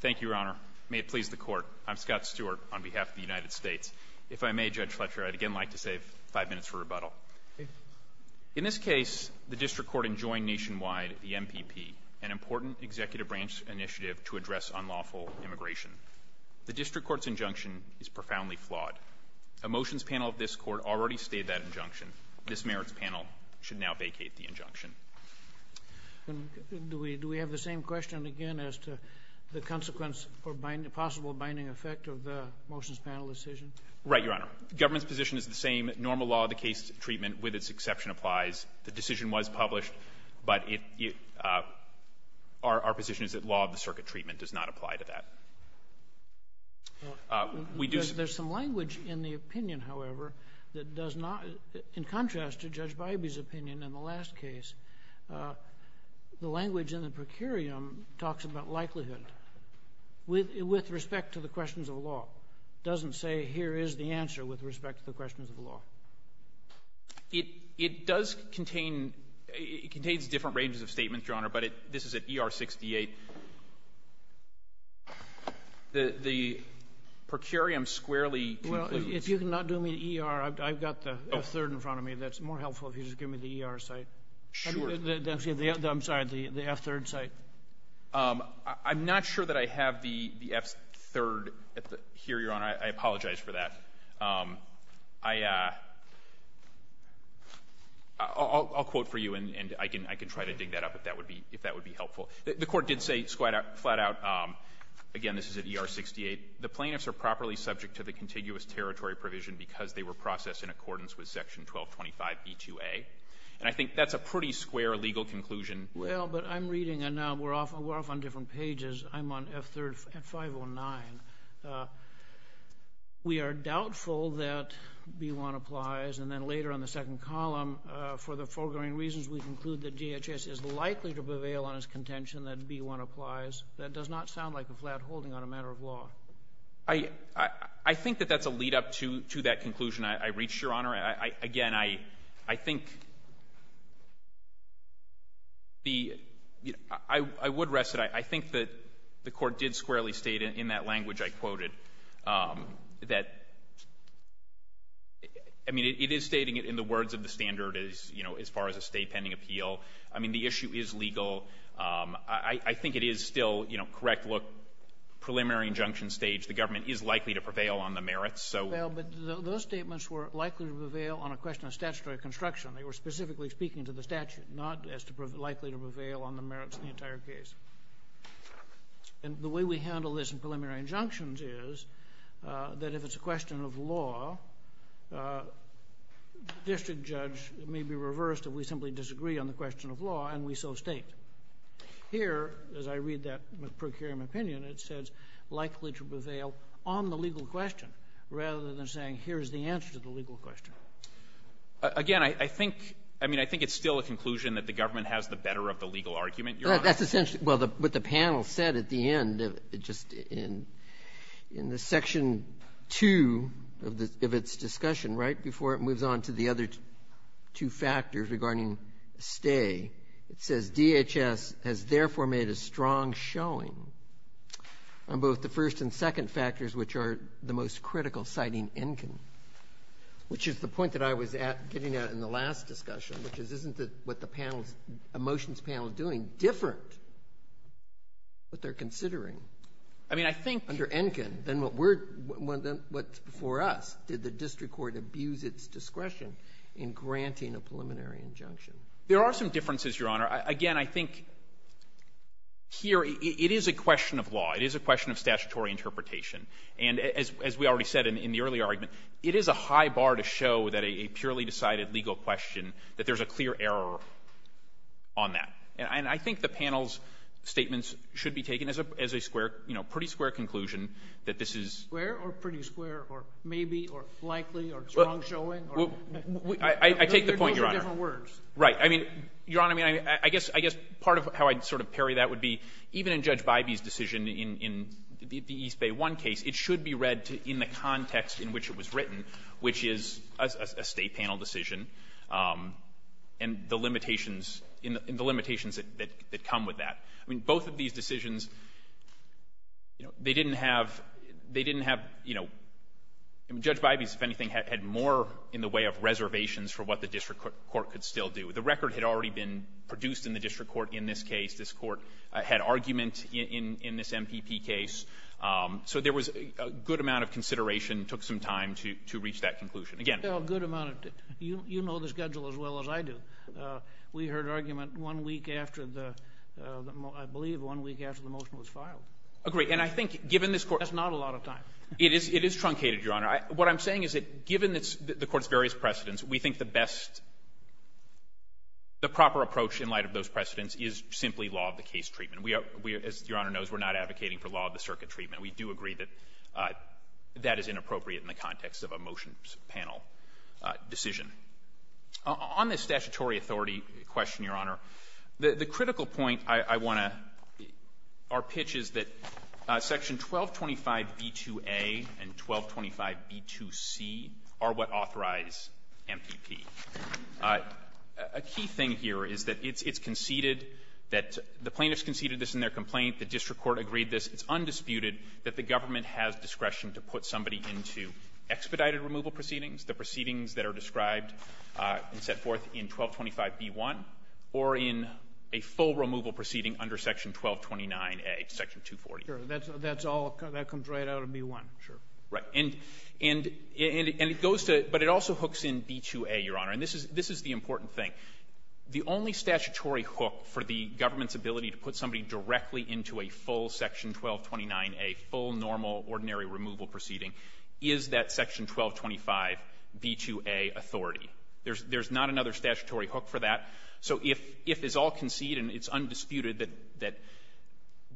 Thank you, Your Honor. May it please the Court, I'm Scott Stewart on behalf of the United States. If I may, Judge Fletcher, I'd again like to save five minutes for rebuttal. In this case, the District Court enjoined nationwide the MPP, an important executive branch initiative to address unlawful immigration. The District Court's injunction is profoundly flawed. A motions panel of this Court already stated that injunction. This merits panel should now vacate the injunction. Do we have the same question again as to the consequence for possible binding effect of the motions panel decision? Right, Your Honor. The government's position is the same. Normal law of the case treatment, with its exception, applies. The decision was published, but our position is that law of the circuit treatment does not apply to that. There's some language in the opinion, however, that does not, in contrast to Judge Bybee's opinion in the last case, the language in the procurium talks about likelihood with respect to the questions of law. It doesn't say here is the answer with respect to the questions of law. It does contain, it contains different ranges of statements, Your Honor, but this is at ER 68. The procurium squarely concludes. Well, if you can not do me the ER, I've got the F-3rd in front of me. That's more helpful if you just give me the ER site. Sure. I'm sorry, the F-3rd site. I'm not sure that I have the F-3rd here, Your Honor. I apologize for that. I'll quote for you, and I can try to dig that up if that would be helpful. The Court did say flat out, again, this is at ER 68, the plaintiffs are properly subject to the contiguous territory provision because they were processed in accordance with Section 1225b2a, and I think that's a pretty square legal conclusion. Well, but I'm reading, and we're off on different pages. I'm on F-3rd at 509. We are doubtful that B-1 applies, and then later on the second column, for the foregoing reasons we conclude that DHS is likely to prevail on its contention that B-1 applies. That does not sound like a flat holding on a matter of law. I think that that's a lead-up to that conclusion I reached, Your Honor. Again, I think the — I would rest it. I think that the Court did squarely state in that language I quoted that — I mean, it is stating it in the words of the standard as far as a State pending appeal. I mean, the issue is legal. I think it is still, you know, correct, look, preliminary injunction stage, the government is likely to prevail on the merits, so — Well, but those statements were likely to prevail on a question of statutory construction. They were specifically speaking to the statute, not as likely to prevail on the merits of the entire case. And the way we handle this in preliminary injunctions is that if it's a question of law, the district judge may be reversed if we simply disagree on the question of law, and we so state. Here, as I read that McCracken opinion, it says likely to prevail on the legal question rather than saying here is the answer to the legal question. Again, I think — I mean, I think it's still a conclusion that the government has the better of the legal argument, Your Honor. That's essentially — well, what the panel said at the end, just in the Section 2 of its discussion, right, before it moves on to the other two factors regarding stay. It says DHS has therefore made a strong showing on both the first and second factors, which are the most critical, citing Enkin, which is the point that I was getting at in the last discussion, which is isn't what the panel's — Emotions panel is doing different, what they're considering — I mean, I think —— under Enkin than what we're — than what's before us. Did the district court abuse its discretion in granting a preliminary injunction? There are some differences, Your Honor. Again, I think here it is a question of law. It is a question of statutory interpretation. And as we already said in the early argument, it is a high bar to show that a purely decided legal question, that there's a clear error on that. And I think the panel's statements should be taken as a square — you know, pretty square conclusion that this is — Square or pretty square or maybe or likely or strong showing or — I take the point, Your Honor. Those are different words. Right. I mean, Your Honor, I mean, I guess part of how I'd sort of parry that would be even in Judge Bybee's decision in the East Bay 1 case, it should be read in the context in which it was written, which is a State panel decision and the limitations — and the limitations that come with that. I mean, both of these decisions, you know, they didn't have — they didn't have, you know — Judge Bybee's, if anything, had more in the way of reservations for what the district court could still do. The record had already been produced in the district court in this case. This court had argument in this MPP case. So there was a good amount of consideration, took some time to reach that conclusion. Again — A good amount of — you know the schedule as well as I do. We heard argument one week after the — I believe one week after the motion was filed. Agreed. And I think, given this court — That's not a lot of time. It is truncated, Your Honor. What I'm saying is that, given the court's various precedents, we think the best — the proper approach in light of those precedents is simply law of the case treatment. We are — as Your Honor knows, we're not advocating for law of the circuit treatment. We do agree that that is inappropriate in the context of a motion panel decision. On this statutory authority question, Your Honor, the critical point I want to — our pitch is that Section 1225b2a and 1225b2c are what authorize MPP. A key thing here is that it's conceded that — the plaintiffs conceded this in their complaint, the district court agreed this, it's undisputed that the government has discretion to put somebody into expedited removal proceedings, the proceedings that are described and set forth in 1225b1, or in a full removal proceeding under Section 1229a, Section 240. Sure. That's all — that comes right out of b1, sure. Right. And it goes to — but it also hooks in b2a, Your Honor, and this is the important thing. The only statutory hook for the government's ability to put somebody directly into a full Section 1229a, full normal ordinary removal proceeding, is that Section 1225b2a authority. There's not another statutory hook for that. So if it's all conceded and it's undisputed that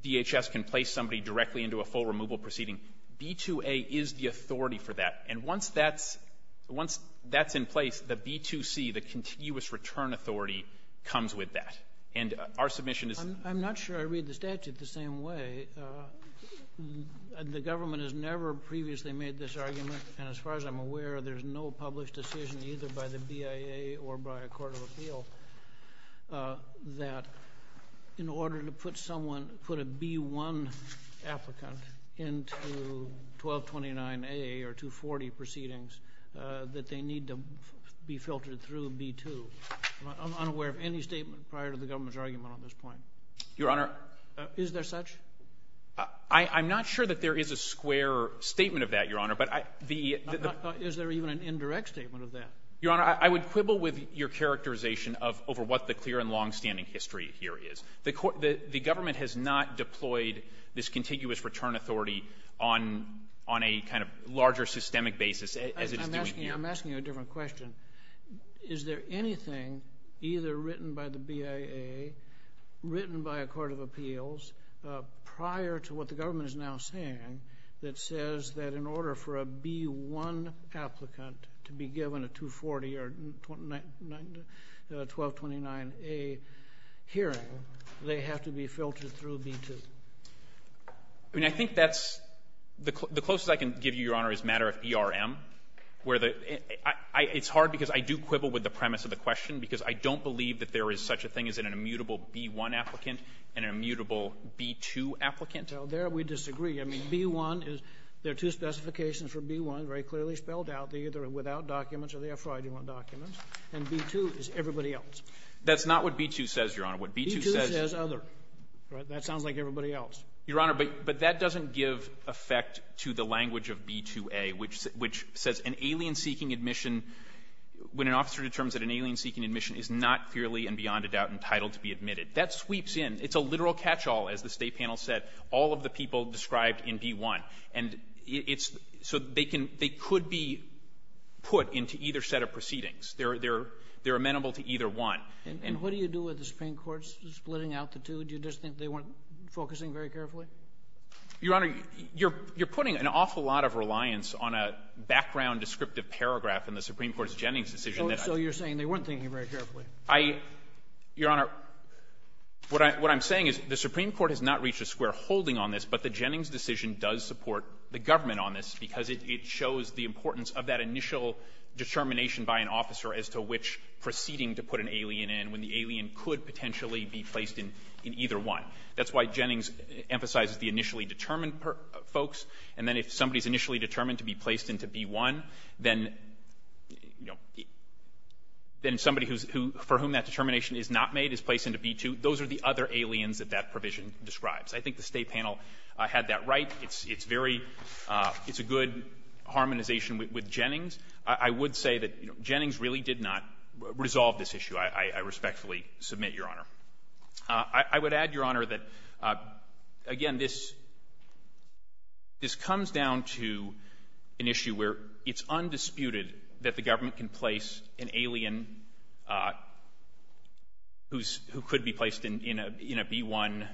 DHS can place somebody directly into a full removal proceeding, b2a is the authority for that. And once that's — once that's in place, the b2c, the continuous return authority, comes with that. And our submission is — I'm not sure I read the statute the same way. The government has never previously made this argument, and as far as I'm aware, there's no published decision either by the BIA or by a court of appeal that in order to put someone — put a b1 applicant into 1229a or 240 proceedings, that they need to be filtered through b2. I'm unaware of any statement prior to the government's argument on this point. Your Honor — Is there such? I'm not sure that there is a square statement of that, Your Honor, but the — Is there even an indirect statement of that? Your Honor, I would quibble with your characterization of — over what the clear and longstanding history here is. The government has not deployed this contiguous return authority on a kind of larger systemic basis, as it is doing here. I'm asking you a different question. Is there anything either written by the BIA, written by a court of appeals, prior to what the government is now saying that says that in order for a b1 applicant to be given a hearing, they have to be filtered through b2? I mean, I think that's — the closest I can give you, Your Honor, is matter of ERM, where the — it's hard because I do quibble with the premise of the question because I don't believe that there is such a thing as an immutable b1 applicant and an immutable b2 applicant. Well, there we disagree. I mean, b1 is — there are two specifications for b1 very clearly spelled out. They either are without documents or they are for identity documents. And b2 is everybody else. That's not what b2 says, Your Honor. What b2 says — b2 says other. Right? That sounds like everybody else. Your Honor, but that doesn't give effect to the language of b2a, which says an alien-seeking admission, when an officer determines that an alien-seeking admission is not clearly and beyond a doubt entitled to be admitted. That sweeps in. It's a literal catchall, as the State panel said, all of the people described in b1. And it's — so they can — they could be put into either set of proceedings. They're amenable to either one. And what do you do with the Supreme Court's splitting out the two? Do you just think they weren't focusing very carefully? Your Honor, you're putting an awful lot of reliance on a background descriptive paragraph in the Supreme Court's Jennings decision that — So you're saying they weren't thinking very carefully. I — Your Honor, what I'm saying is the Supreme Court has not reached a square holding on this, but the Jennings decision does support the government on this because it shows the importance of that initial determination by an officer as to which proceeding to put an alien in when the alien could potentially be placed in either one. That's why Jennings emphasizes the initially determined folks. And then if somebody is initially determined to be placed into b1, then, you know, then somebody who's — for whom that determination is not made is placed into b2. Those are the other aliens that that provision describes. I think the State panel had that right. It's very — it's a good harmonization with Jennings. I would say that Jennings really did not resolve this issue, I respectfully submit, Your Honor. I would add, Your Honor, that, again, this comes down to an issue where it's undisputed that the government can place an alien who could be placed in a b1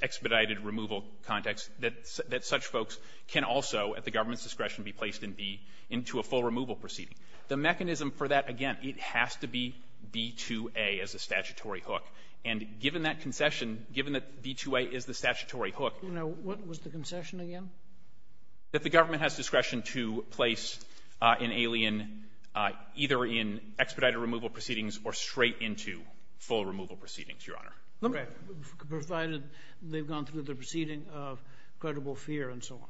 expedited removal context, that such folks can also, at the government's discretion, be placed in b — into a full removal proceeding. The mechanism for that, again, it has to be b2a as a statutory hook. And given that concession, given that b2a is the statutory hook — Now, what was the concession again? That the government has discretion to place an alien either in expedited removal proceedings or straight into full removal proceedings, Your Honor. Right. Provided they've gone through the proceeding of credible fear and so on.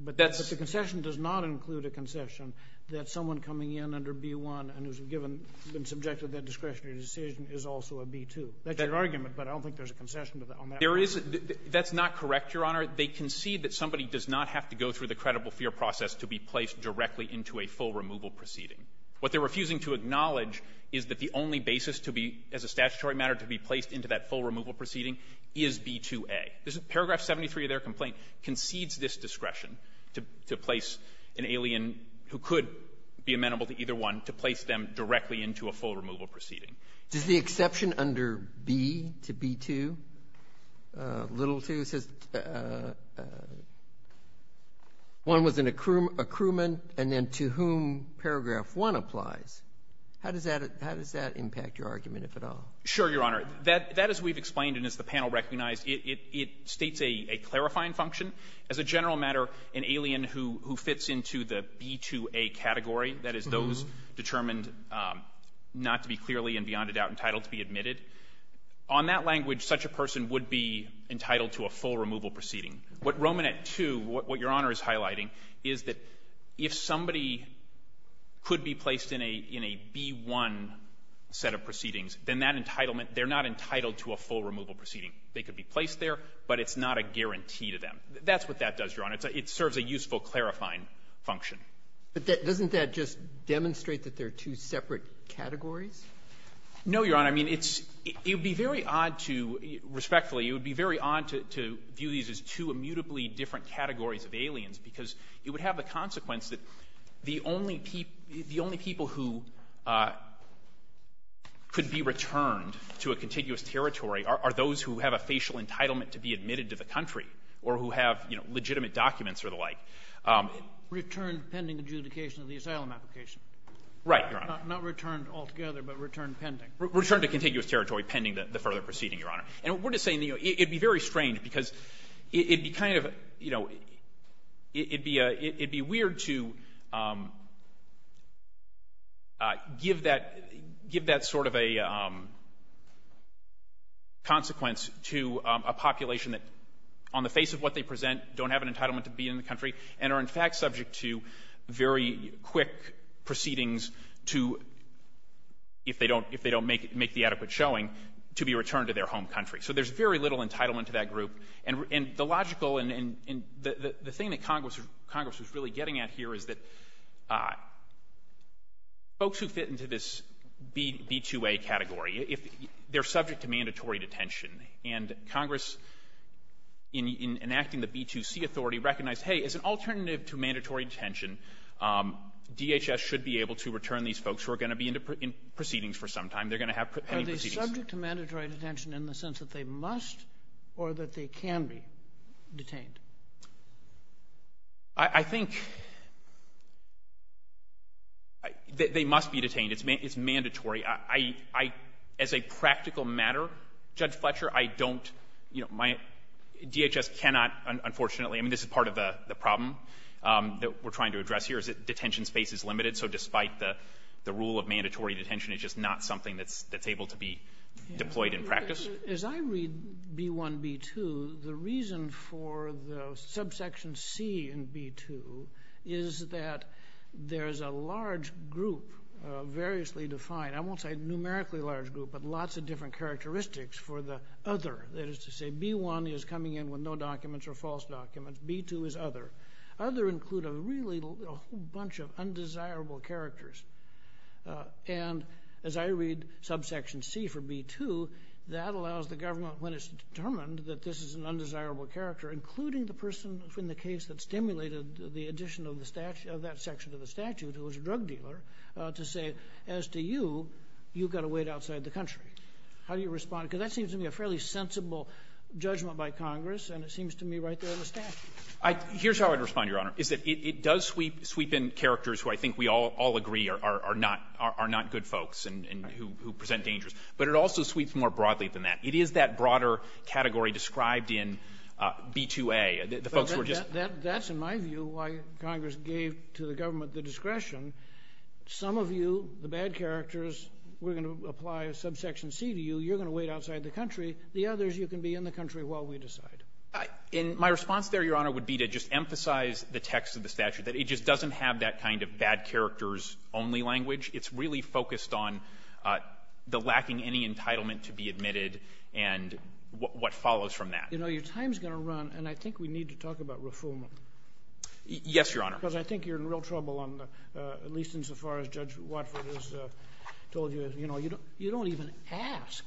But the concession does not include a concession that someone coming in under b1 and who's given — been subjected to that discretionary decision is also a b2. That's your argument, but I don't think there's a concession on that one. There isn't. That's not correct, Your Honor. They concede that somebody does not have to go through the credible fear process to be placed directly into a full removal proceeding. What they're refusing to acknowledge is that the only basis to be, as a statutory matter, to be placed into that full removal proceeding is b2a. Paragraph 73 of their complaint concedes this discretion to place an alien who could be amenable to either one, to place them directly into a full removal proceeding. Does the exception under b to b2, little 2, says one was an accruement and then to whom paragraph 1 applies, how does that — how does that impact your argument, if at all? Sure, Your Honor. That, as we've explained and as the panel recognized, it states a clarifying function. As a general matter, an alien who fits into the b2a category, that is, those determined not to be clearly and beyond a doubt entitled to be admitted, on that language such a person would be entitled to a full removal proceeding. What Romanet 2, what Your Honor is highlighting, is that if somebody could be placed in a b1 set of proceedings, then that entitlement — they're not entitled to a full removal proceeding. They could be placed there, but it's not a guarantee to them. That's what that does, Your Honor. It serves a useful clarifying function. But doesn't that just demonstrate that there are two separate categories? No, Your Honor. I mean, it's — it would be very odd to — respectfully, it would be very odd to view these as two immutably different categories of aliens because it would have the consequence that the only people — the only people who could be returned to a contiguous territory are those who have a facial entitlement to be admitted to the country or who have, you know, legitimate documents or the like. Returned pending adjudication of the asylum application. Right, Your Honor. Not returned altogether, but returned pending. Returned to contiguous territory pending the further proceeding, Your Honor. And we're just saying, you know, it would be very strange because it would be kind of — you know, it'd be — it'd be weird to give that — give that sort of a consequence to a population that, on the face of what they present, don't have an entitlement to be in the country and are, in fact, subject to very quick proceedings to — if they don't — if they don't make the adequate showing, to be returned to their home country. So there's very little entitlement to that group. And the logical — and the thing that Congress was really getting at here is that folks who fit into this B2A category, if — they're subject to mandatory detention. And Congress, in enacting the B2C authority, recognized, hey, as an alternative to mandatory detention, DHS should be able to return these folks who are going to be in proceedings for some time. They're going to have pending proceedings. So are they subject to mandatory detention in the sense that they must or that they can be detained? I think they must be detained. It's mandatory. I — as a practical matter, Judge Fletcher, I don't — you know, my — DHS cannot, unfortunately — I mean, this is part of the problem that we're trying to address here, is that detention space is limited. So despite the rule of mandatory detention, it's just not something that's able to be deployed in practice. As I read B1, B2, the reason for the subsection C in B2 is that there's a large group of variously defined — I won't say numerically large group, but lots of different characteristics for the other. That is to say, B1 is coming in with no documents or false documents. B2 is other. Other include a really — a whole bunch of undesirable characters. And as I read subsection C for B2, that allows the government, when it's determined that this is an undesirable character, including the person in the case that stimulated the addition of the statute — of that section of the statute, who was a drug dealer, to say, as to you, you've got to wait outside the country. How do you respond? Because that seems to me a fairly sensible judgment by Congress, and it seems to me right there in the statute. Here's how I'd respond, Your Honor, is that it does sweep in characters who I think we all agree are not good folks and who present dangers. But it also sweeps more broadly than that. It is that broader category described in B2A, the folks who are just — That's, in my view, why Congress gave to the government the discretion. Some of you, the bad characters, we're going to apply a subsection C to you. You're going to wait outside the country. The others, you can be in the country while we decide. And my response there, Your Honor, would be to just emphasize the text of the statute, that it just doesn't have that kind of bad characters only language. It's really focused on the lacking any entitlement to be admitted and what follows from that. You know, your time is going to run, and I think we need to talk about reform. Yes, Your Honor. Because I think you're in real trouble on the — at least insofar as Judge Watford has told you, you know, you don't even ask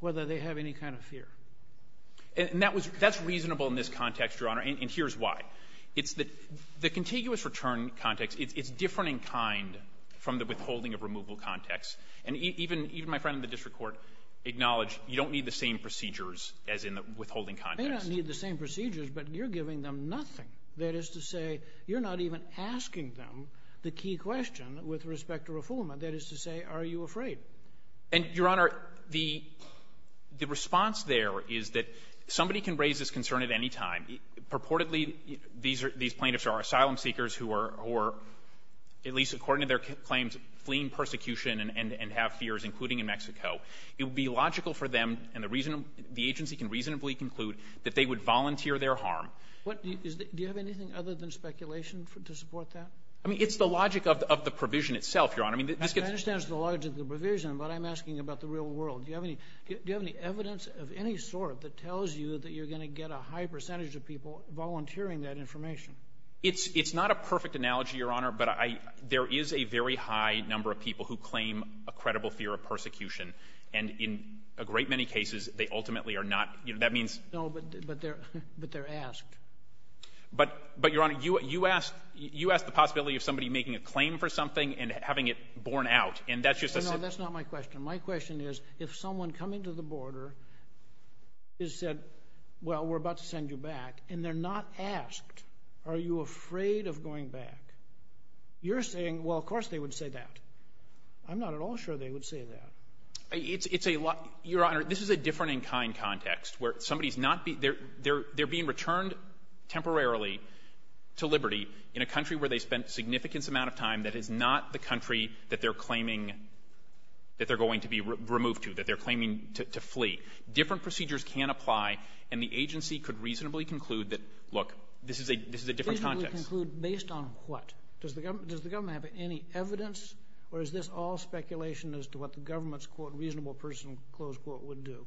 whether they have any kind of fear. And that was — that's reasonable in this context, Your Honor, and here's why. It's that the contiguous return context, it's different in kind from the withholding of removal context. And even my friend in the district court acknowledged you don't need the same procedures as in the withholding context. They don't need the same procedures, but you're giving them nothing. That is to say, you're not even asking them the key question with respect to reform. That is to say, are you afraid? And, Your Honor, the — the response there is that somebody can raise this concern at any time. Purportedly, these are — these plaintiffs are asylum seekers who are — who are, at least according to their claims, fleeing persecution and have fears, including in Mexico. It would be logical for them, and the reason — the agency can reasonably conclude that they would volunteer their harm. Do you have anything other than speculation to support that? I mean, it's the logic of the provision itself, Your Honor. I mean, this — I understand it's the logic of the provision, but I'm asking about the real world. Do you have any — do you have any evidence of any sort that tells you that you're going to get a high percentage of people volunteering that information? It's — it's not a perfect analogy, Your Honor, but I — there is a very high number of people who claim a credible fear of persecution. And in a great many cases, they ultimately are not — you know, that means — No, but they're — but they're asked. But — but, Your Honor, you asked — you asked the possibility of somebody making a claim for something and having it borne out, and that's just a — No, no, that's not my question. My question is, if someone coming to the border is said, well, we're about to send you back, and they're not asked, are you afraid of going back, you're saying, well, of course they would say that. I'm not at all sure they would say that. It's — it's a — Your Honor, this is a different-in-kind context, where somebody's not — they're — they're being returned temporarily to liberty in a country where they spent a significant amount of time that is not the country that they're claiming — that they're going to be removed to, that they're claiming to flee. Different procedures can apply, and the agency could reasonably conclude that, look, this is a — this is a different context. Reasonably conclude based on what? Does the government — does the government have any evidence, or is this all speculation as to what the government's, quote, reasonable person, close quote, would do?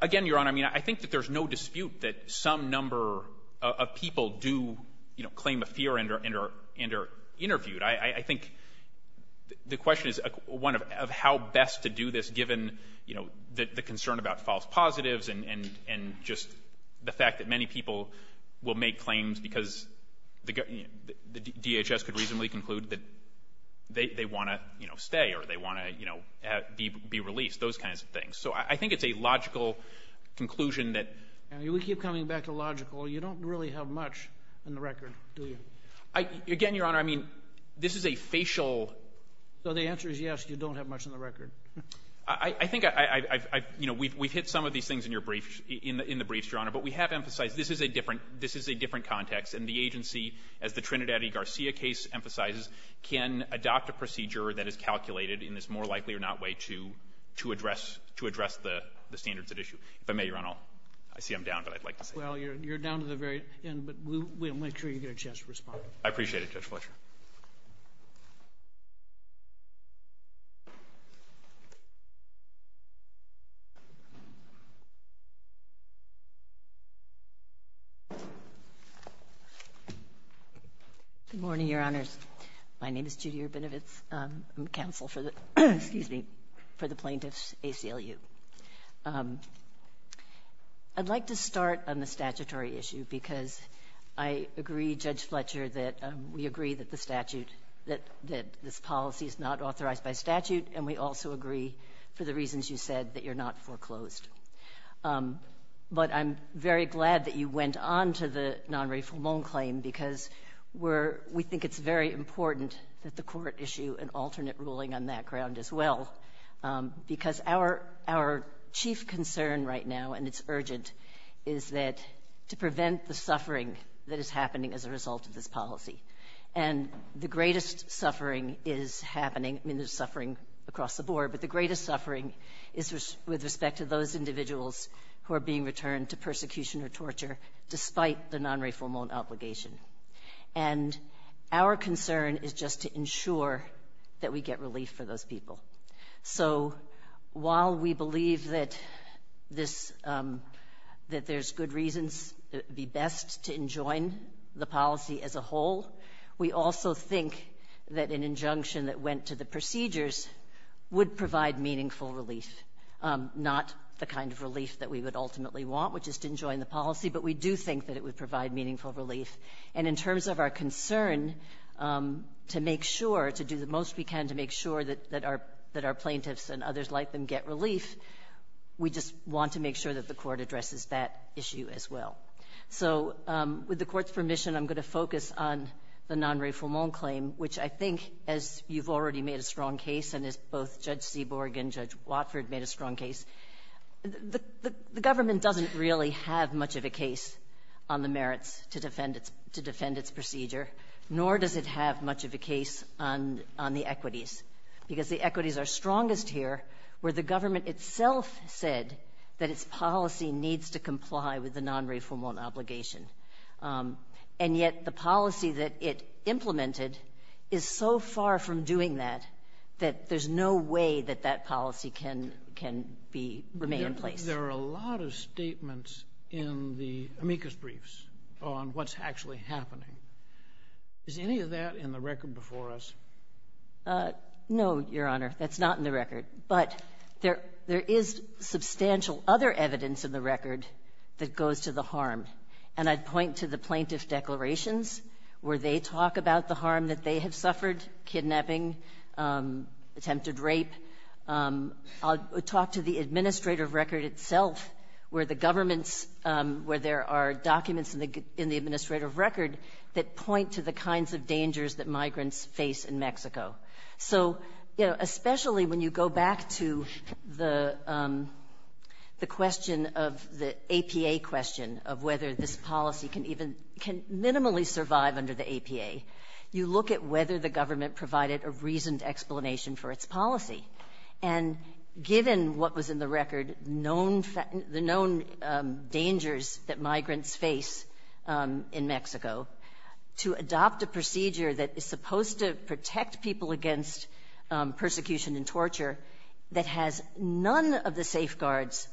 Again, Your Honor, I mean, I think that there's no dispute that some number of people do, you know, claim a fear and are interviewed. I think the question is one of how best to do this, given, you know, the concern about false positives and just the fact that many people will make claims because the DHS could reasonably conclude that they want to, you know, stay or they want to, you know, be released, those kinds of things. So I think it's a logical conclusion that — Again, Your Honor, I mean, this is a facial — So the answer is yes, you don't have much on the record. I think I've — you know, we've hit some of these things in your brief — in the briefs, Your Honor, but we have emphasized this is a different — this is a different context, and the agency, as the Trinidad and Garcia case emphasizes, can adopt a procedure that is calculated in this more likely or not way to address — to address the standards at issue. If I may, Your Honor, I'll — I see I'm down, but I'd like to say — Well, you're down to the very end, but we'll make sure you get a chance to respond. I appreciate it, Judge Fletcher. Good morning, Your Honors. My name is Judy Urbinovitz. I'm counsel for the — excuse me — for the Plaintiffs' ACLU. I'd like to start on the statutory issue, because I agree, Judge Fletcher, that we agree that the statute — that this policy is not authorized by statute, and we also agree, for the reasons you said, that you're not foreclosed. But I'm very glad that you went on to the non-rafflemoan claim, because we're — we think it's very important that the court issue an alternate ruling on that ground as well, because our — our chief concern right now, and it's urgent, is that — to prevent the suffering that is happening as a result of this policy. And the greatest suffering is happening — I mean, there's suffering across the board, but the greatest suffering is with respect to those individuals who are being returned to persecution or torture, despite the non-rafflemoan obligation. And our concern is just to ensure that we get relief for those people. So while we believe that this — that there's good reasons, it would be best to enjoin the policy as a whole, we also think that an injunction that went to the procedures would provide meaningful relief, not the kind of relief that we would ultimately want, which is to enjoin the policy, but we do think that it would provide meaningful relief. And in terms of our concern to make sure, to do the most we can to make sure that our — that our plaintiffs and others like them get relief, we just want to make sure that the court addresses that issue as well. So with the court's permission, I'm going to focus on the non-rafflemoan claim, which I think, as you've already made a strong case, and as both Judge Seaborg and Judge Watford made a strong case, the government doesn't really have much of a case on the merits to defend its procedure, nor does it have much of a case on the equities, because the equities are strongest here, where the government itself said that its policy needs to comply with the non-rafflemoan obligation. And yet the policy that it implemented is so far from doing that, that there's no way that that policy can be — remain in place. There are a lot of statements in the amicus briefs on what's actually happening. Is any of that in the record before us? No, Your Honor, that's not in the record. But there is substantial other evidence in the record that goes to the harm. And I'd point to the plaintiff's declarations, where they talk about the harm that they have suffered, kidnapping, attempted rape. I'll talk to the administrative record itself, where the government's — where there are documents in the administrative record that point to the kinds of dangers that migrants face in Mexico. So, you know, especially when you go back to the question of the APA question, of whether this policy can even — can minimally survive under the APA, you look at whether the government provided a reasoned explanation for its policy. And given what was in the record, known — the known dangers that migrants face in Mexico, to adopt a procedure that is supposed to protect people against persecution and torture that has none of the safeguards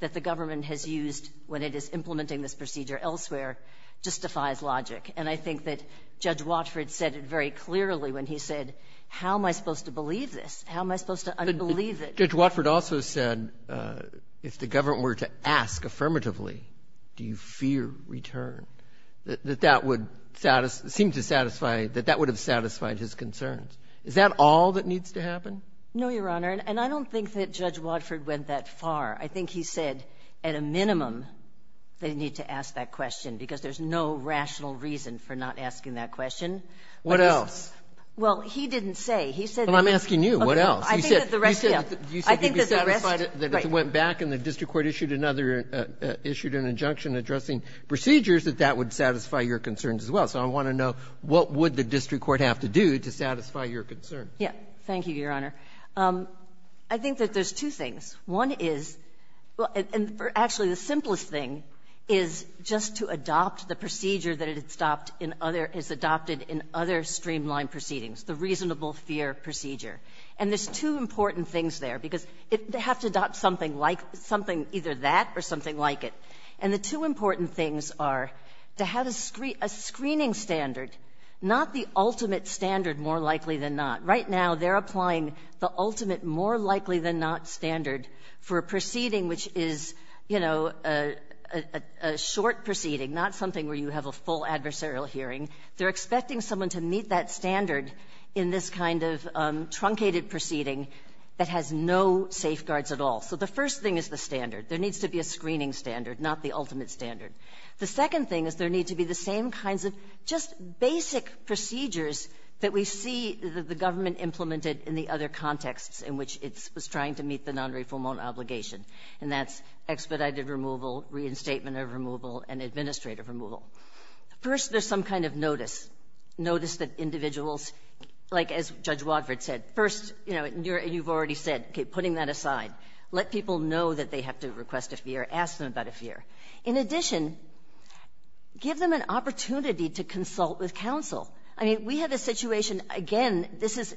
that the government has used when it is implementing this procedure elsewhere justifies logic. And I think that Judge Watford said it very clearly when he said, how am I supposed to believe this? How am I supposed to unbelieve it? Judge Watford also said if the government were to ask affirmatively, do you fear return, that that would seem to satisfy — that that would have satisfied his concerns. Is that all that needs to happen? No, Your Honor. And I don't think that Judge Watford went that far. I think he said at a minimum they need to ask that question because there's no rational reason for not asking that question. What else? Well, he didn't say. He said that — Well, I'm asking you. What else? You said — I think that the rest, yeah. I think that the rest, right. You said you'd be satisfied that if it went back and the district court issued another — issued an injunction addressing procedures, that that would satisfy your concerns as well. So I want to know, what would the district court have to do to satisfy your concerns? Yeah. Thank you, Your Honor. I think that there's two things. One is — and actually, the simplest thing is just to adopt the procedure that it stopped in other — is adopted in other streamlined proceedings, the reasonable fear procedure. And there's two important things there, because they have to adopt something like — something either that or something like it. And the two important things are to have a screening standard, not the ultimate standard, more likely than not. Right now, they're applying the ultimate, more likely than not standard for a proceeding which is, you know, a short proceeding, not something where you have a full adversarial hearing. They're expecting someone to meet that standard in this kind of truncated proceeding that has no safeguards at all. So the first thing is the standard. There needs to be a screening standard, not the ultimate standard. The second thing is there need to be the same kinds of just basic procedures that we see the government implemented in the other contexts in which it's — was trying to meet the nonreformal obligation, and that's expedited removal, reinstatement of removal, and administrative removal. First, there's some kind of notice, notice that individuals — like as Judge Wadford said, first, you know, you've already said, okay, putting that aside, let people know that they have to request a fear, ask them about a fear. In addition, give them an opportunity to consult with counsel. I mean, we have a situation — again, this is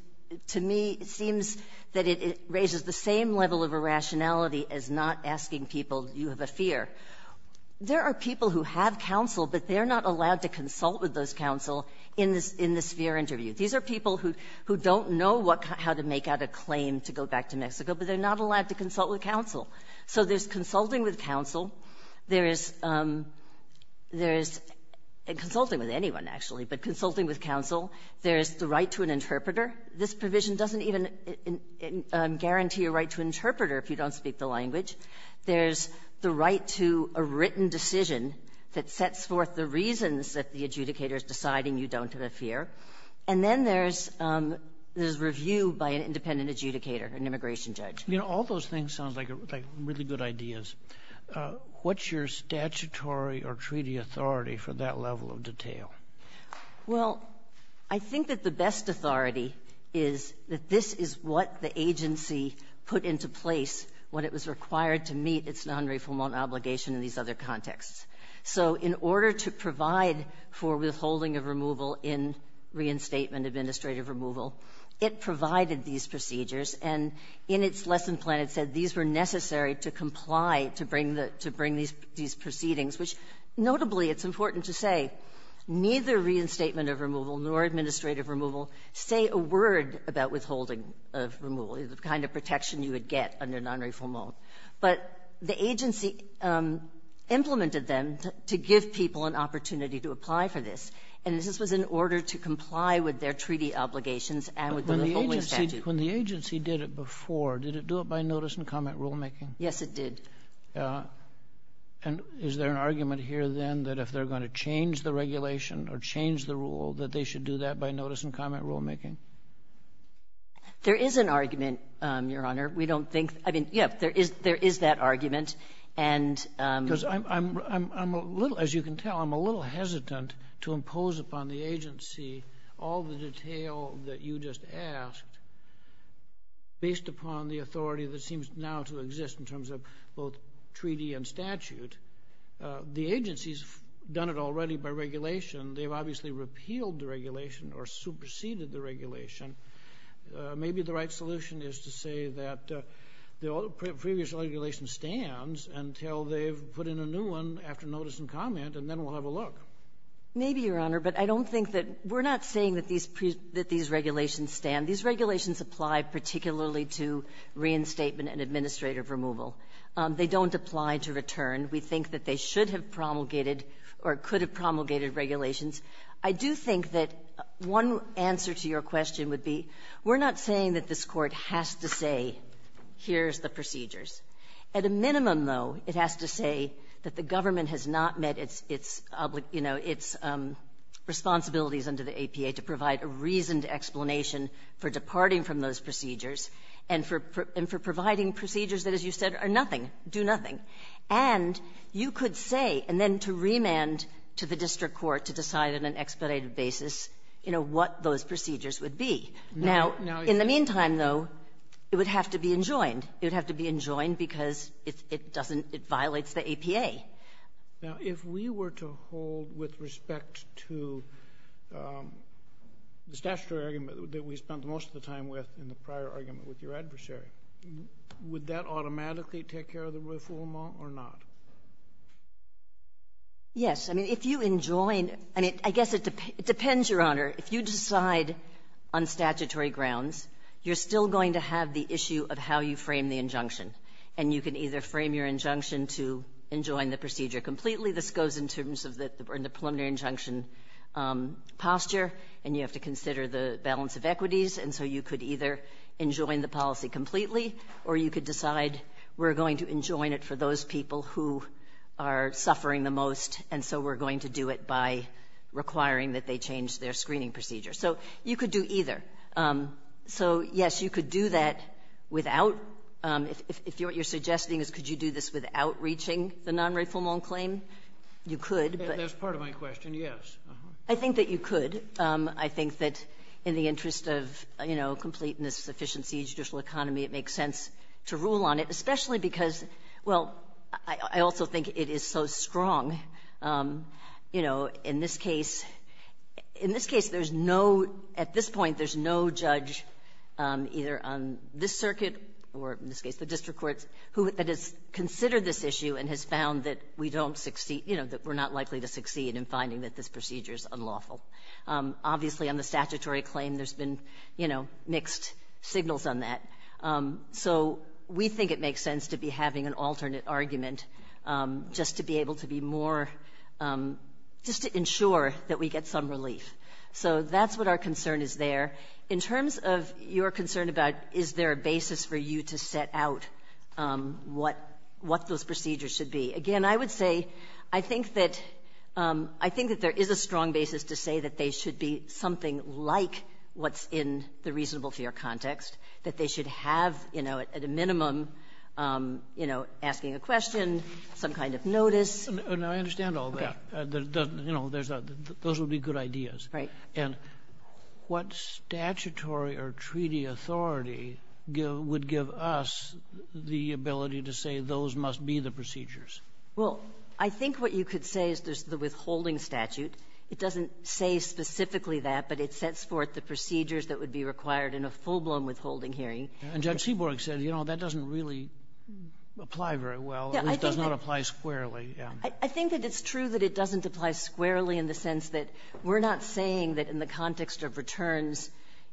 — to me, it seems that it raises the same level of irrationality as not asking people, do you have a fear? There are people who have counsel, but they're not allowed to consult with those counsel in this — in this fear interview. These are people who don't know what — how to make out a claim to go back to Mexico, but they're not allowed to consult with counsel. So there's consulting with counsel. There is — there is — consulting with anyone, actually, but consulting with counsel. There is the right to an interpreter. This provision doesn't even guarantee a right to an interpreter if you don't speak the language. There's the right to a written decision that sets forth the reasons that the adjudicator is deciding you don't have a fear. And then there's — there's review by an independent adjudicator, an immigration judge. You know, all those things sound like — like really good ideas. What's your statutory or treaty authority for that level of detail? Well, I think that the best authority is that this is what the agency put into place when it was required to meet its nonreformal obligation in these other contexts. So in order to provide for withholding of removal in reinstatement, administrative removal, it provided these procedures. And in its lesson plan, it said these were necessary to comply to bring the — to bring these proceedings, which notably, it's important to say, neither reinstatement of removal nor administrative removal say a word about withholding of removal, the kind of protection you would get under nonreformal. But the agency implemented them to give people an opportunity to apply for this. And this was in order to comply with their treaty obligations and with the reforming statute. When the agency did it before, did it do it by notice and comment rulemaking? Yes, it did. And is there an argument here, then, that if they're going to change the regulation or change the rule, that they should do that by notice and comment rulemaking? There is an argument, Your Honor. We don't think — I mean, yes, there is that argument. And — Because I'm a little — as you can tell, I'm a little hesitant to impose upon the agency all the detail that you just asked based upon the authority that seems now to exist in terms of both treaty and statute. The agency's done it already by regulation. They've obviously repealed the regulation or superseded the regulation. Maybe the right solution is to say that the previous regulation stands until they've put in a new one after notice and comment, and then we'll have a look. Maybe, Your Honor. But I don't think that — we're not saying that these — that these regulations stand. These regulations apply particularly to reinstatement and administrative removal. They don't apply to return. We think that they should have promulgated or could have promulgated regulations. I do think that one answer to your question would be, we're not saying that this Court has to say, here's the procedures. At a minimum, though, it has to say that the government has not met its — its, you know, its responsibilities under the APA to provide a reasoned explanation for departing from those procedures and for — and for providing procedures that, as you said, are nothing, do nothing. And you could say, and then to remand to the district court to decide on an expedited basis, you know, what those procedures would be. Now, in the meantime, though, it would have to be enjoined. It would have to be enjoined because it doesn't — it violates the APA. Kennedy. Now, if we were to hold with respect to the statutory argument that we spent most of the time with in the prior argument with your adversary, would that automatically take care of the reform or not? Yes. I mean, if you enjoin — I mean, I guess it depends, Your Honor. If you decide on statutory grounds, you're still going to have the issue of how you frame the injunction. And you can either frame your injunction to enjoin the procedure completely. This goes in terms of the preliminary injunction posture, and you have to consider the balance of equities. And so you could either enjoin the policy completely, or you could decide we're going to enjoin it for those people who are suffering the most, and so we're going to do it by requiring that they change their screening procedure. So you could do either. So, yes, you could do that without — if what you're suggesting is could you do this without reaching the non-refoulement claim, you could. And that's part of my question, yes. I think that you could. I think that in the interest of, you know, completeness, efficiency, judicial economy, it makes sense to rule on it, especially because, well, I also think it is so strong, you know, in this case — in this case, there's no — at this point, there's no judge, either on this circuit or in this case the district courts, who has considered this issue and has found that we don't succeed — you know, that we're not likely to succeed in finding that this procedure is unlawful. Obviously, on the statutory claim, there's been, you know, mixed signals on that. So we think it makes sense to be having an alternate argument just to be able to be more — just to ensure that we get some relief. So that's what our concern is there. In terms of your concern about is there a basis for you to set out what those procedures should be, again, I would say I think that — I think that there is a strong basis to say that they should be something like what's in the reasonable fear context, that they should have, you know, at a minimum, you know, asking a question, some kind of notice. Now, I understand all that. Okay. You know, there's a — those would be good ideas. Right. And what statutory or treaty authority would give us the ability to say those must be the procedures? Well, I think what you could say is there's the withholding statute. It doesn't say specifically that, but it sets forth the procedures that would be required in a full-blown withholding hearing. And Judge Seaborg said, you know, that doesn't really apply very well. Yeah. It does not apply squarely. I think that it's true that it doesn't apply squarely in the sense that we're not saying that in the context of returns,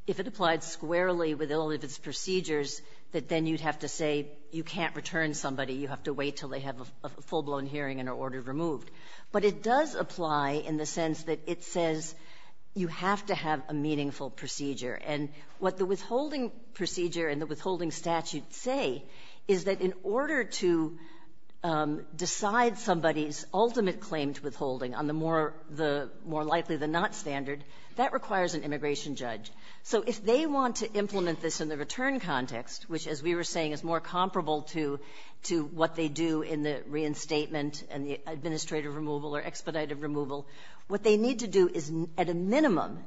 if it applied squarely with all of its procedures, that then you'd have to say you can't return somebody. You have to wait until they have a full-blown hearing and are ordered removed. But it does apply in the sense that it says you have to have a meaningful procedure. And what the withholding procedure and the withholding statute say is that in order to decide somebody's ultimate claim to withholding on the more likely-than-not standard, that requires an immigration judge. So if they want to implement this in the return context, which, as we were saying, is more comparable to what they do in the reinstatement and the administrative removal or expedited removal, what they need to do is, at a minimum,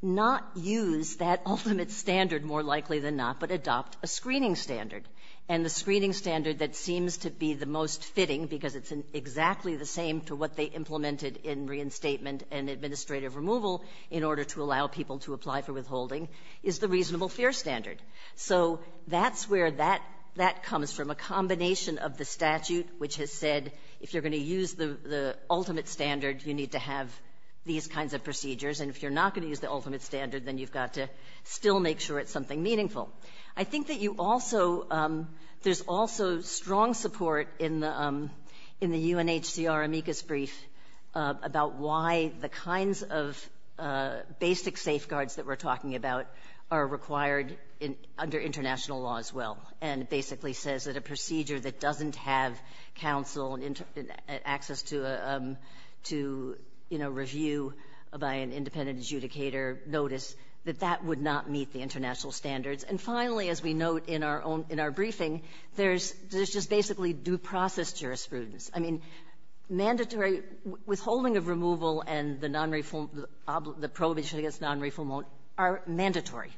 not use that ultimate standard more likely-than-not, but adopt a screening standard. And the screening standard that seems to be the most fitting, because it's exactly the same to what they implemented in reinstatement and administrative removal in order to allow people to apply for withholding, is the reasonable fear standard. So that's where that comes from, a combination of the statute, which has said if you're going to use the ultimate standard, you need to have these kinds of procedures. And if you're not going to use the ultimate standard, then you've got to still make sure it's something meaningful. I think that you also — there's also strong support in the UNHCR amicus brief about why the kinds of basic safeguards that we're talking about are required under international law as well. And it basically says that a procedure that doesn't have counsel and access to, you know, review by an independent adjudicator notice, that that would not meet the international standards. And finally, as we note in our own — in our briefing, there's just basically due process jurisprudence. I mean, mandatory — withholding of removal and the nonreform — the prohibition against nonreform are mandatory.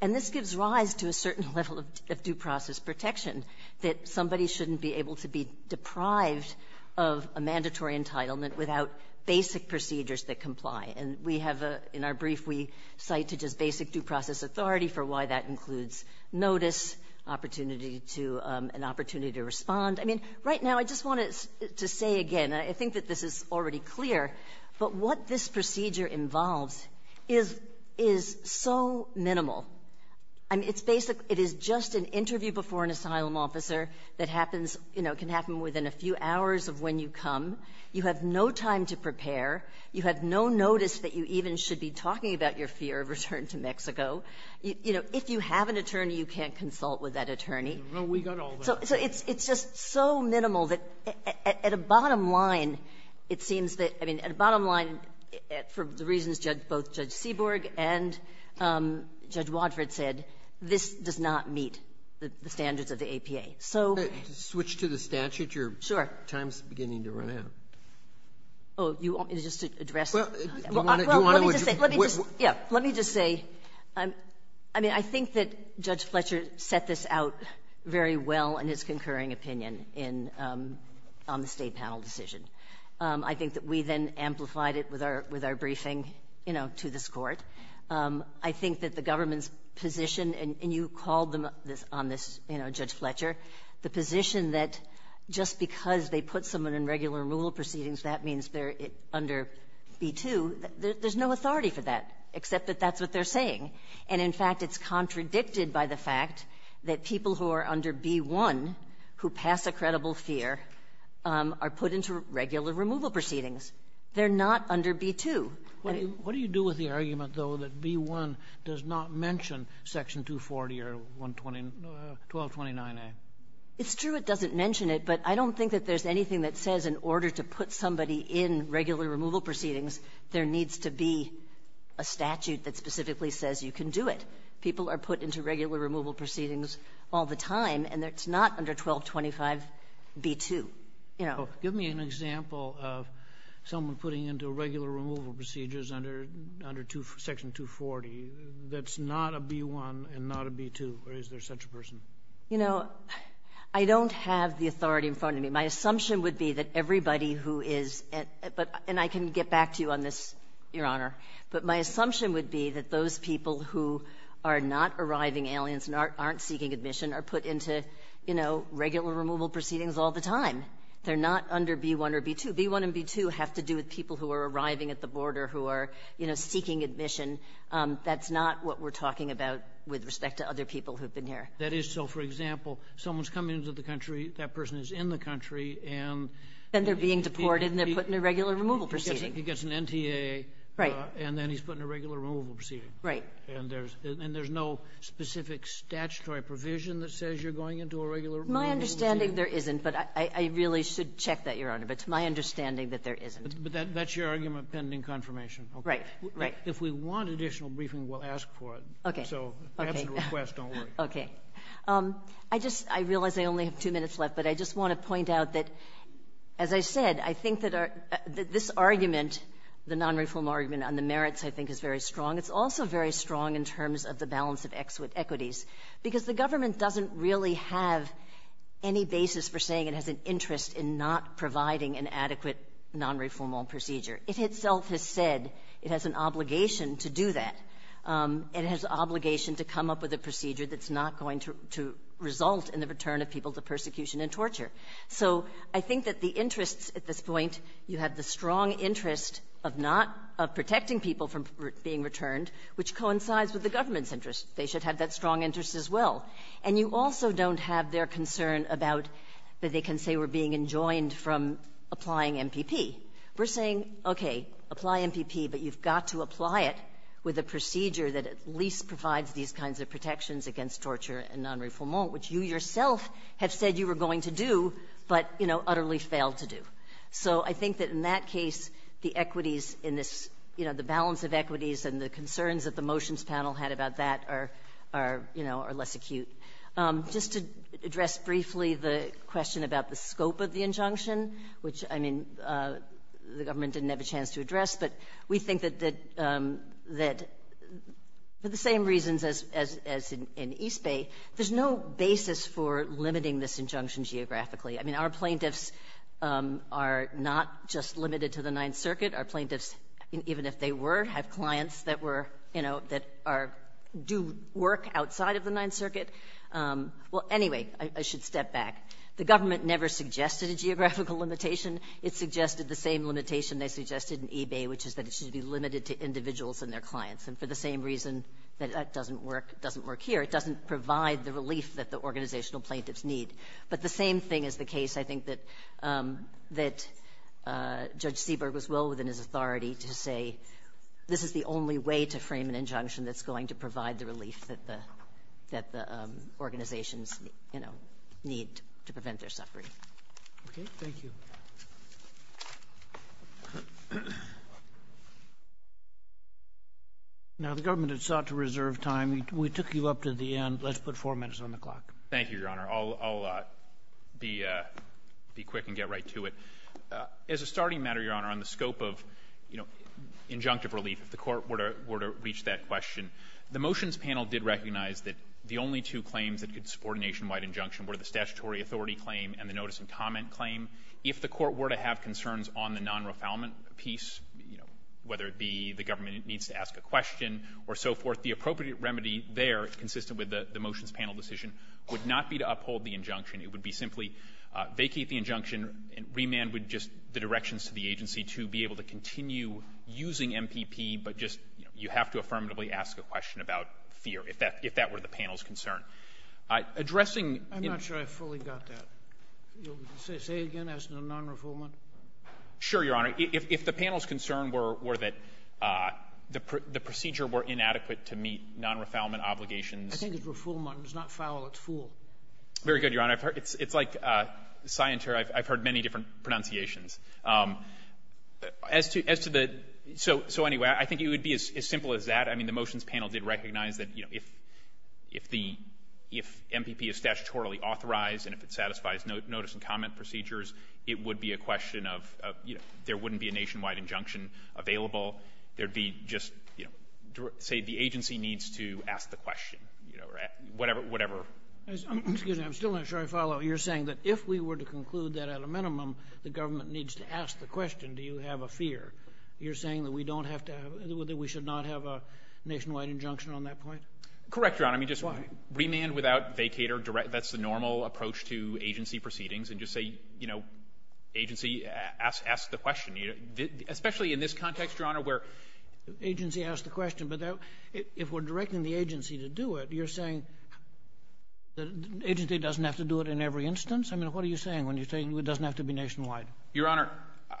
And this gives rise to a certain level of due process protection, that somebody shouldn't be able to be deprived of a mandatory entitlement without basic procedures that comply. And we have a — in our brief, we cite to just basic due process authority for why that includes notice, opportunity to — an opportunity to respond. I mean, right now, I just wanted to say again, and I think that this is already clear, but what this procedure involves is — is so minimal. I mean, it's basically — it is just an interview before an asylum officer that happens — you know, can happen within a few hours of when you come. You have no time to prepare. You have no notice that you even should be talking about your fear of return to Mexico. You know, if you have an attorney, you can't consult with that attorney. Well, we got all that. So it's — it's just so minimal that, at a bottom line, it seems that — I mean, at a bottom line, for the reasons both Judge Seaborg and Judge Wadford said, this does not meet the standards of the APA. So — Switch to the statute. Your time is beginning to run out. Oh, you want me to just address — Well, you want to — Well, let me just say — let me just — yeah, let me just say, I mean, I think that we then amplified it with our — with our briefing, you know, to this Court. I think that the government's position — and you called them on this, you know, Judge Fletcher — the position that just because they put someone in regular and rural proceedings, that means they're under B-2, there's no authority for that, except that that's what they're saying. And, in fact, it's contradicted by the fact that people who are under B-1, who are under B-1, who pass a credible fear, are put into regular removal proceedings. They're not under B-2. What do you do with the argument, though, that B-1 does not mention Section 240 or 1229a? It's true it doesn't mention it, but I don't think that there's anything that says in order to put somebody in regular removal proceedings, there needs to be a statute that specifically says you can do it. People are put into regular removal proceedings all the time, and it's not under 1225b-2, you know. Give me an example of someone putting into regular removal procedures under Section 240 that's not a B-1 and not a B-2, or is there such a person? You know, I don't have the authority in front of me. My assumption would be that everybody who is — and I can get back to you on this, Your Honor — but my assumption would be that those people who are not arriving aliens and aren't seeking admission are put into, you know, regular removal proceedings all the time. They're not under B-1 or B-2. B-1 and B-2 have to do with people who are arriving at the border who are, you know, seeking admission. That's not what we're talking about with respect to other people who have been here. That is so. For example, someone's coming into the country, that person is in the country, and — Then they're being deported, and they're put in a regular removal proceeding. He gets an NTA. Right. And then he's put in a regular removal proceeding. Right. And there's — and there's no specific statutory provision that says you're going into a regular removal proceeding? My understanding, there isn't. But I really should check that, Your Honor. But it's my understanding that there isn't. But that's your argument pending confirmation. Right. Right. If we want additional briefing, we'll ask for it. Okay. So if that's the request, don't worry. Okay. I just — I realize I only have two minutes left, but I just want to point out that, as I said, I think that this argument, the nonreform argument on the merits, I think, is very strong. It's also very strong in terms of the balance of equities, because the government doesn't really have any basis for saying it has an interest in not providing an adequate nonreformal procedure. It itself has said it has an obligation to do that. It has obligation to come up with a procedure that's not going to result in the return of people to persecution and torture. So I think that the interests at this point, you have the strong interest of not — of being returned, which coincides with the government's interest. They should have that strong interest as well. And you also don't have their concern about that they can say we're being enjoined from applying MPP. We're saying, okay, apply MPP, but you've got to apply it with a procedure that at least provides these kinds of protections against torture and nonreformal, which you yourself have said you were going to do, but, you know, utterly failed to do. So I think that in that case, the equities in this — you know, the balance of equities and the concerns that the motions panel had about that are, you know, are less acute. Just to address briefly the question about the scope of the injunction, which, I mean, the government didn't have a chance to address, but we think that for the same reasons as in East Bay, there's no basis for limiting this injunction geographically. I mean, our plaintiffs are not just limited to the Ninth Circuit. Our plaintiffs, even if they were, have clients that were — you know, that are — do work outside of the Ninth Circuit. Well, anyway, I should step back. The government never suggested a geographical limitation. It suggested the same limitation they suggested in East Bay, which is that it should be limited to individuals and their clients. And for the same reason that that doesn't work here, it doesn't provide the relief that the organizational plaintiffs need. But the same thing is the case, I think, that Judge Seaberg was well within his authority to say this is the only way to frame an injunction that's going to provide the relief that the organizations, you know, need to prevent their suffering. Okay. Thank you. Now, the government has sought to reserve time. We took you up to the end. Let's put four minutes on the clock. Thank you, Your Honor. I'll be quick and get right to it. As a starting matter, Your Honor, on the scope of, you know, injunctive relief, if the Court were to reach that question, the motions panel did recognize that the only two claims that could support a nationwide injunction were the statutory authority claim and the notice and comment claim. If the Court were to have concerns on the non-refoulement piece, you know, whether it be the government needs to ask a question or so forth, the appropriate remedy there, consistent with the motions panel decision, would not be to uphold the injunction. It would be simply vacate the injunction, and remand would just the directions to the agency to be able to continue using MPP, but just, you know, you have to affirmatively ask a question about fear, if that were the panel's concern. Addressing... I'm not sure I fully got that. Say again, as to the non-refoulement? Sure, Your Honor. If the panel's concern were that the procedure were inadequate to meet non-refoulement obligations... I think it's refoulement. It's not foul. It's fool. Very good, Your Honor. It's like scienture. I've heard many different pronunciations. As to the so anyway, I think it would be as simple as that. I mean, the motions panel did recognize that, you know, if the MPP is statutorily authorized and if it satisfies notice and comment procedures, it would be a question of, you know, there wouldn't be a nationwide injunction available. There would be just, you know, say the agency needs to ask the question, you know, or whatever, whatever... Excuse me. I'm still not sure I follow. You're saying that if we were to conclude that at a minimum, the government needs to ask the question, do you have a fear? You're saying that we don't have to have, that we should not have a nationwide injunction on that point? Correct, Your Honor. I mean, just remand without vacate or direct, that's the normal approach to agency proceedings, and just say, you know, agency, ask the question. Especially in this context, Your Honor, where agency asks the question, but if we're directing the agency to do it, you're saying the agency doesn't have to do it in every instance? I mean, what are you saying when you're saying it doesn't have to be nationwide? Your Honor,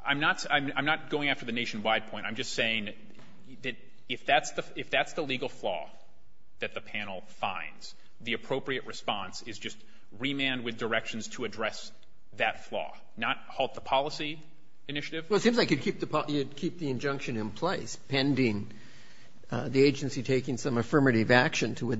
I'm not going after the nationwide point. I'm just saying that if that's the legal flaw that the panel finds, the appropriate response is just remand with directions to address that flaw, not halt the policy initiative. Well, it seems like you'd keep the injunction in place pending the agency taking some affirmative action to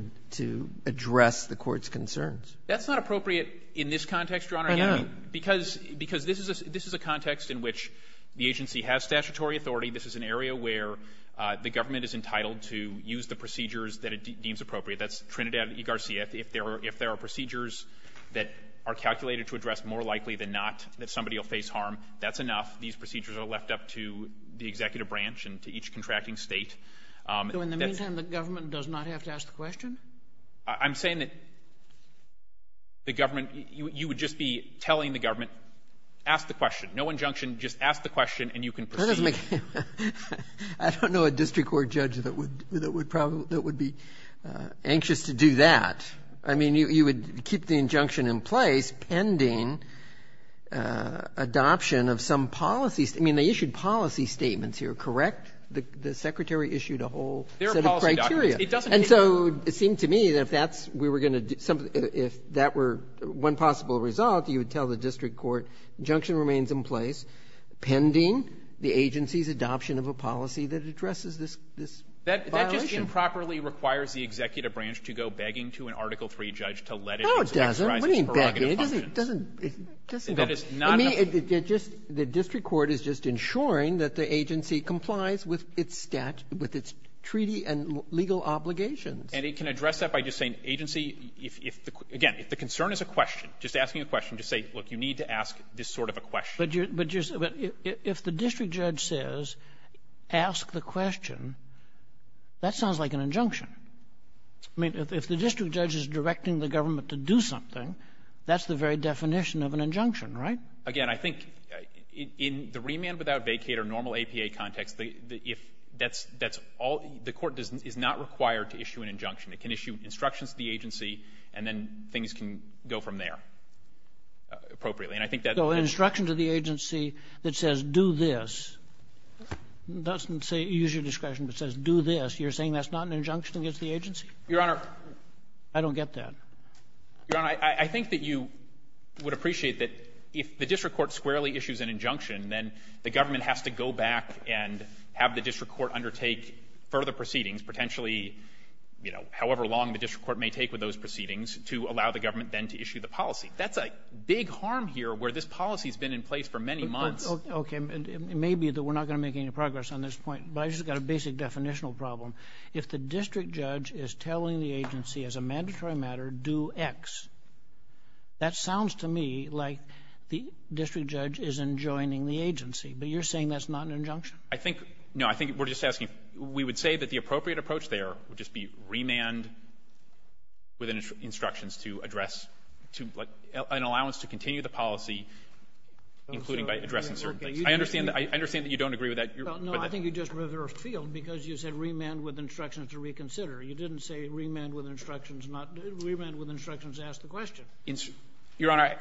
address the court's concerns. That's not appropriate in this context, Your Honor. Why not? Because this is a context in which the agency has statutory authority. This is an area where the government is entitled to use the procedures that it deems appropriate. That's Trinidad v. Garcia. If there are procedures that are calculated to address more likely than not that procedures are left up to the executive branch and to each contracting state. So in the meantime, the government does not have to ask the question? I'm saying that the government, you would just be telling the government, ask the question. No injunction, just ask the question and you can proceed. That doesn't make any sense. I don't know a district court judge that would be anxious to do that. I mean, you would keep the injunction in place pending adoption of some policy. I mean, they issued policy statements here, correct? The Secretary issued a whole set of criteria. And so it seemed to me that if that's we were going to do something, if that were one possible result, you would tell the district court, injunction remains in place pending the agency's adoption of a policy that addresses this violation. That just improperly requires the executive branch to go begging to an Article III judge to let it exercise its prerogative functions. No, it doesn't. What do you mean begging? It doesn't. That is not a ---- I mean, it just the district court is just ensuring that the agency complies with its statute, with its treaty and legal obligations. And it can address that by just saying, agency, if the concern is a question, just asking a question, just say, look, you need to ask this sort of a question. But if the district judge says, ask the question, that sounds like an injunction. I mean, if the district judge is directing the government to do something, that's the very definition of an injunction, right? Again, I think in the remand without vacate or normal APA context, if that's all, the court is not required to issue an injunction. It can issue instructions to the agency, and then things can go from there appropriately. And I think that's ---- So an instruction to the agency that says, do this, doesn't say, use your discretion, but says, do this, you're saying that's not an injunction against the agency? Your Honor, I don't get that. Your Honor, I think that you would appreciate that if the district court squarely issues an injunction, then the government has to go back and have the district court undertake further proceedings, potentially, you know, however long the district court may take with those proceedings, to allow the government then to issue the policy. That's a big harm here, where this policy's been in place for many months. But, okay, it may be that we're not going to make any progress on this point, but I just got a basic definitional problem. If the district judge is telling the agency, as a mandatory matter, do X, that sounds to me like the district judge isn't joining the agency. But you're saying that's not an injunction? I think no. I think we're just asking. We would say that the appropriate approach there would just be remand with instructions to address to, like, an allowance to continue the policy, including by addressing certain things. I understand that you don't agree with that. No, I think you just reversed field, because you said remand with instructions to reconsider. You didn't say remand with instructions, not remand with instructions to ask the question. Your Honor,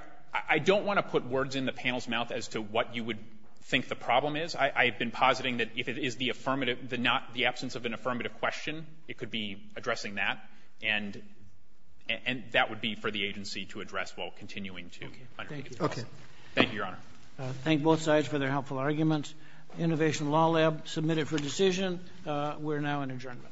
I don't want to put words in the panel's mouth as to what you would think the problem is. I have been positing that if it is the affirmative, the absence of an affirmative question, it could be addressing that. And that would be for the agency to address while continuing to undertake its policy. Thank you, Your Honor. I thank both sides for their helpful arguments. Innovation Law Lab submitted for decision. We're now in adjournment.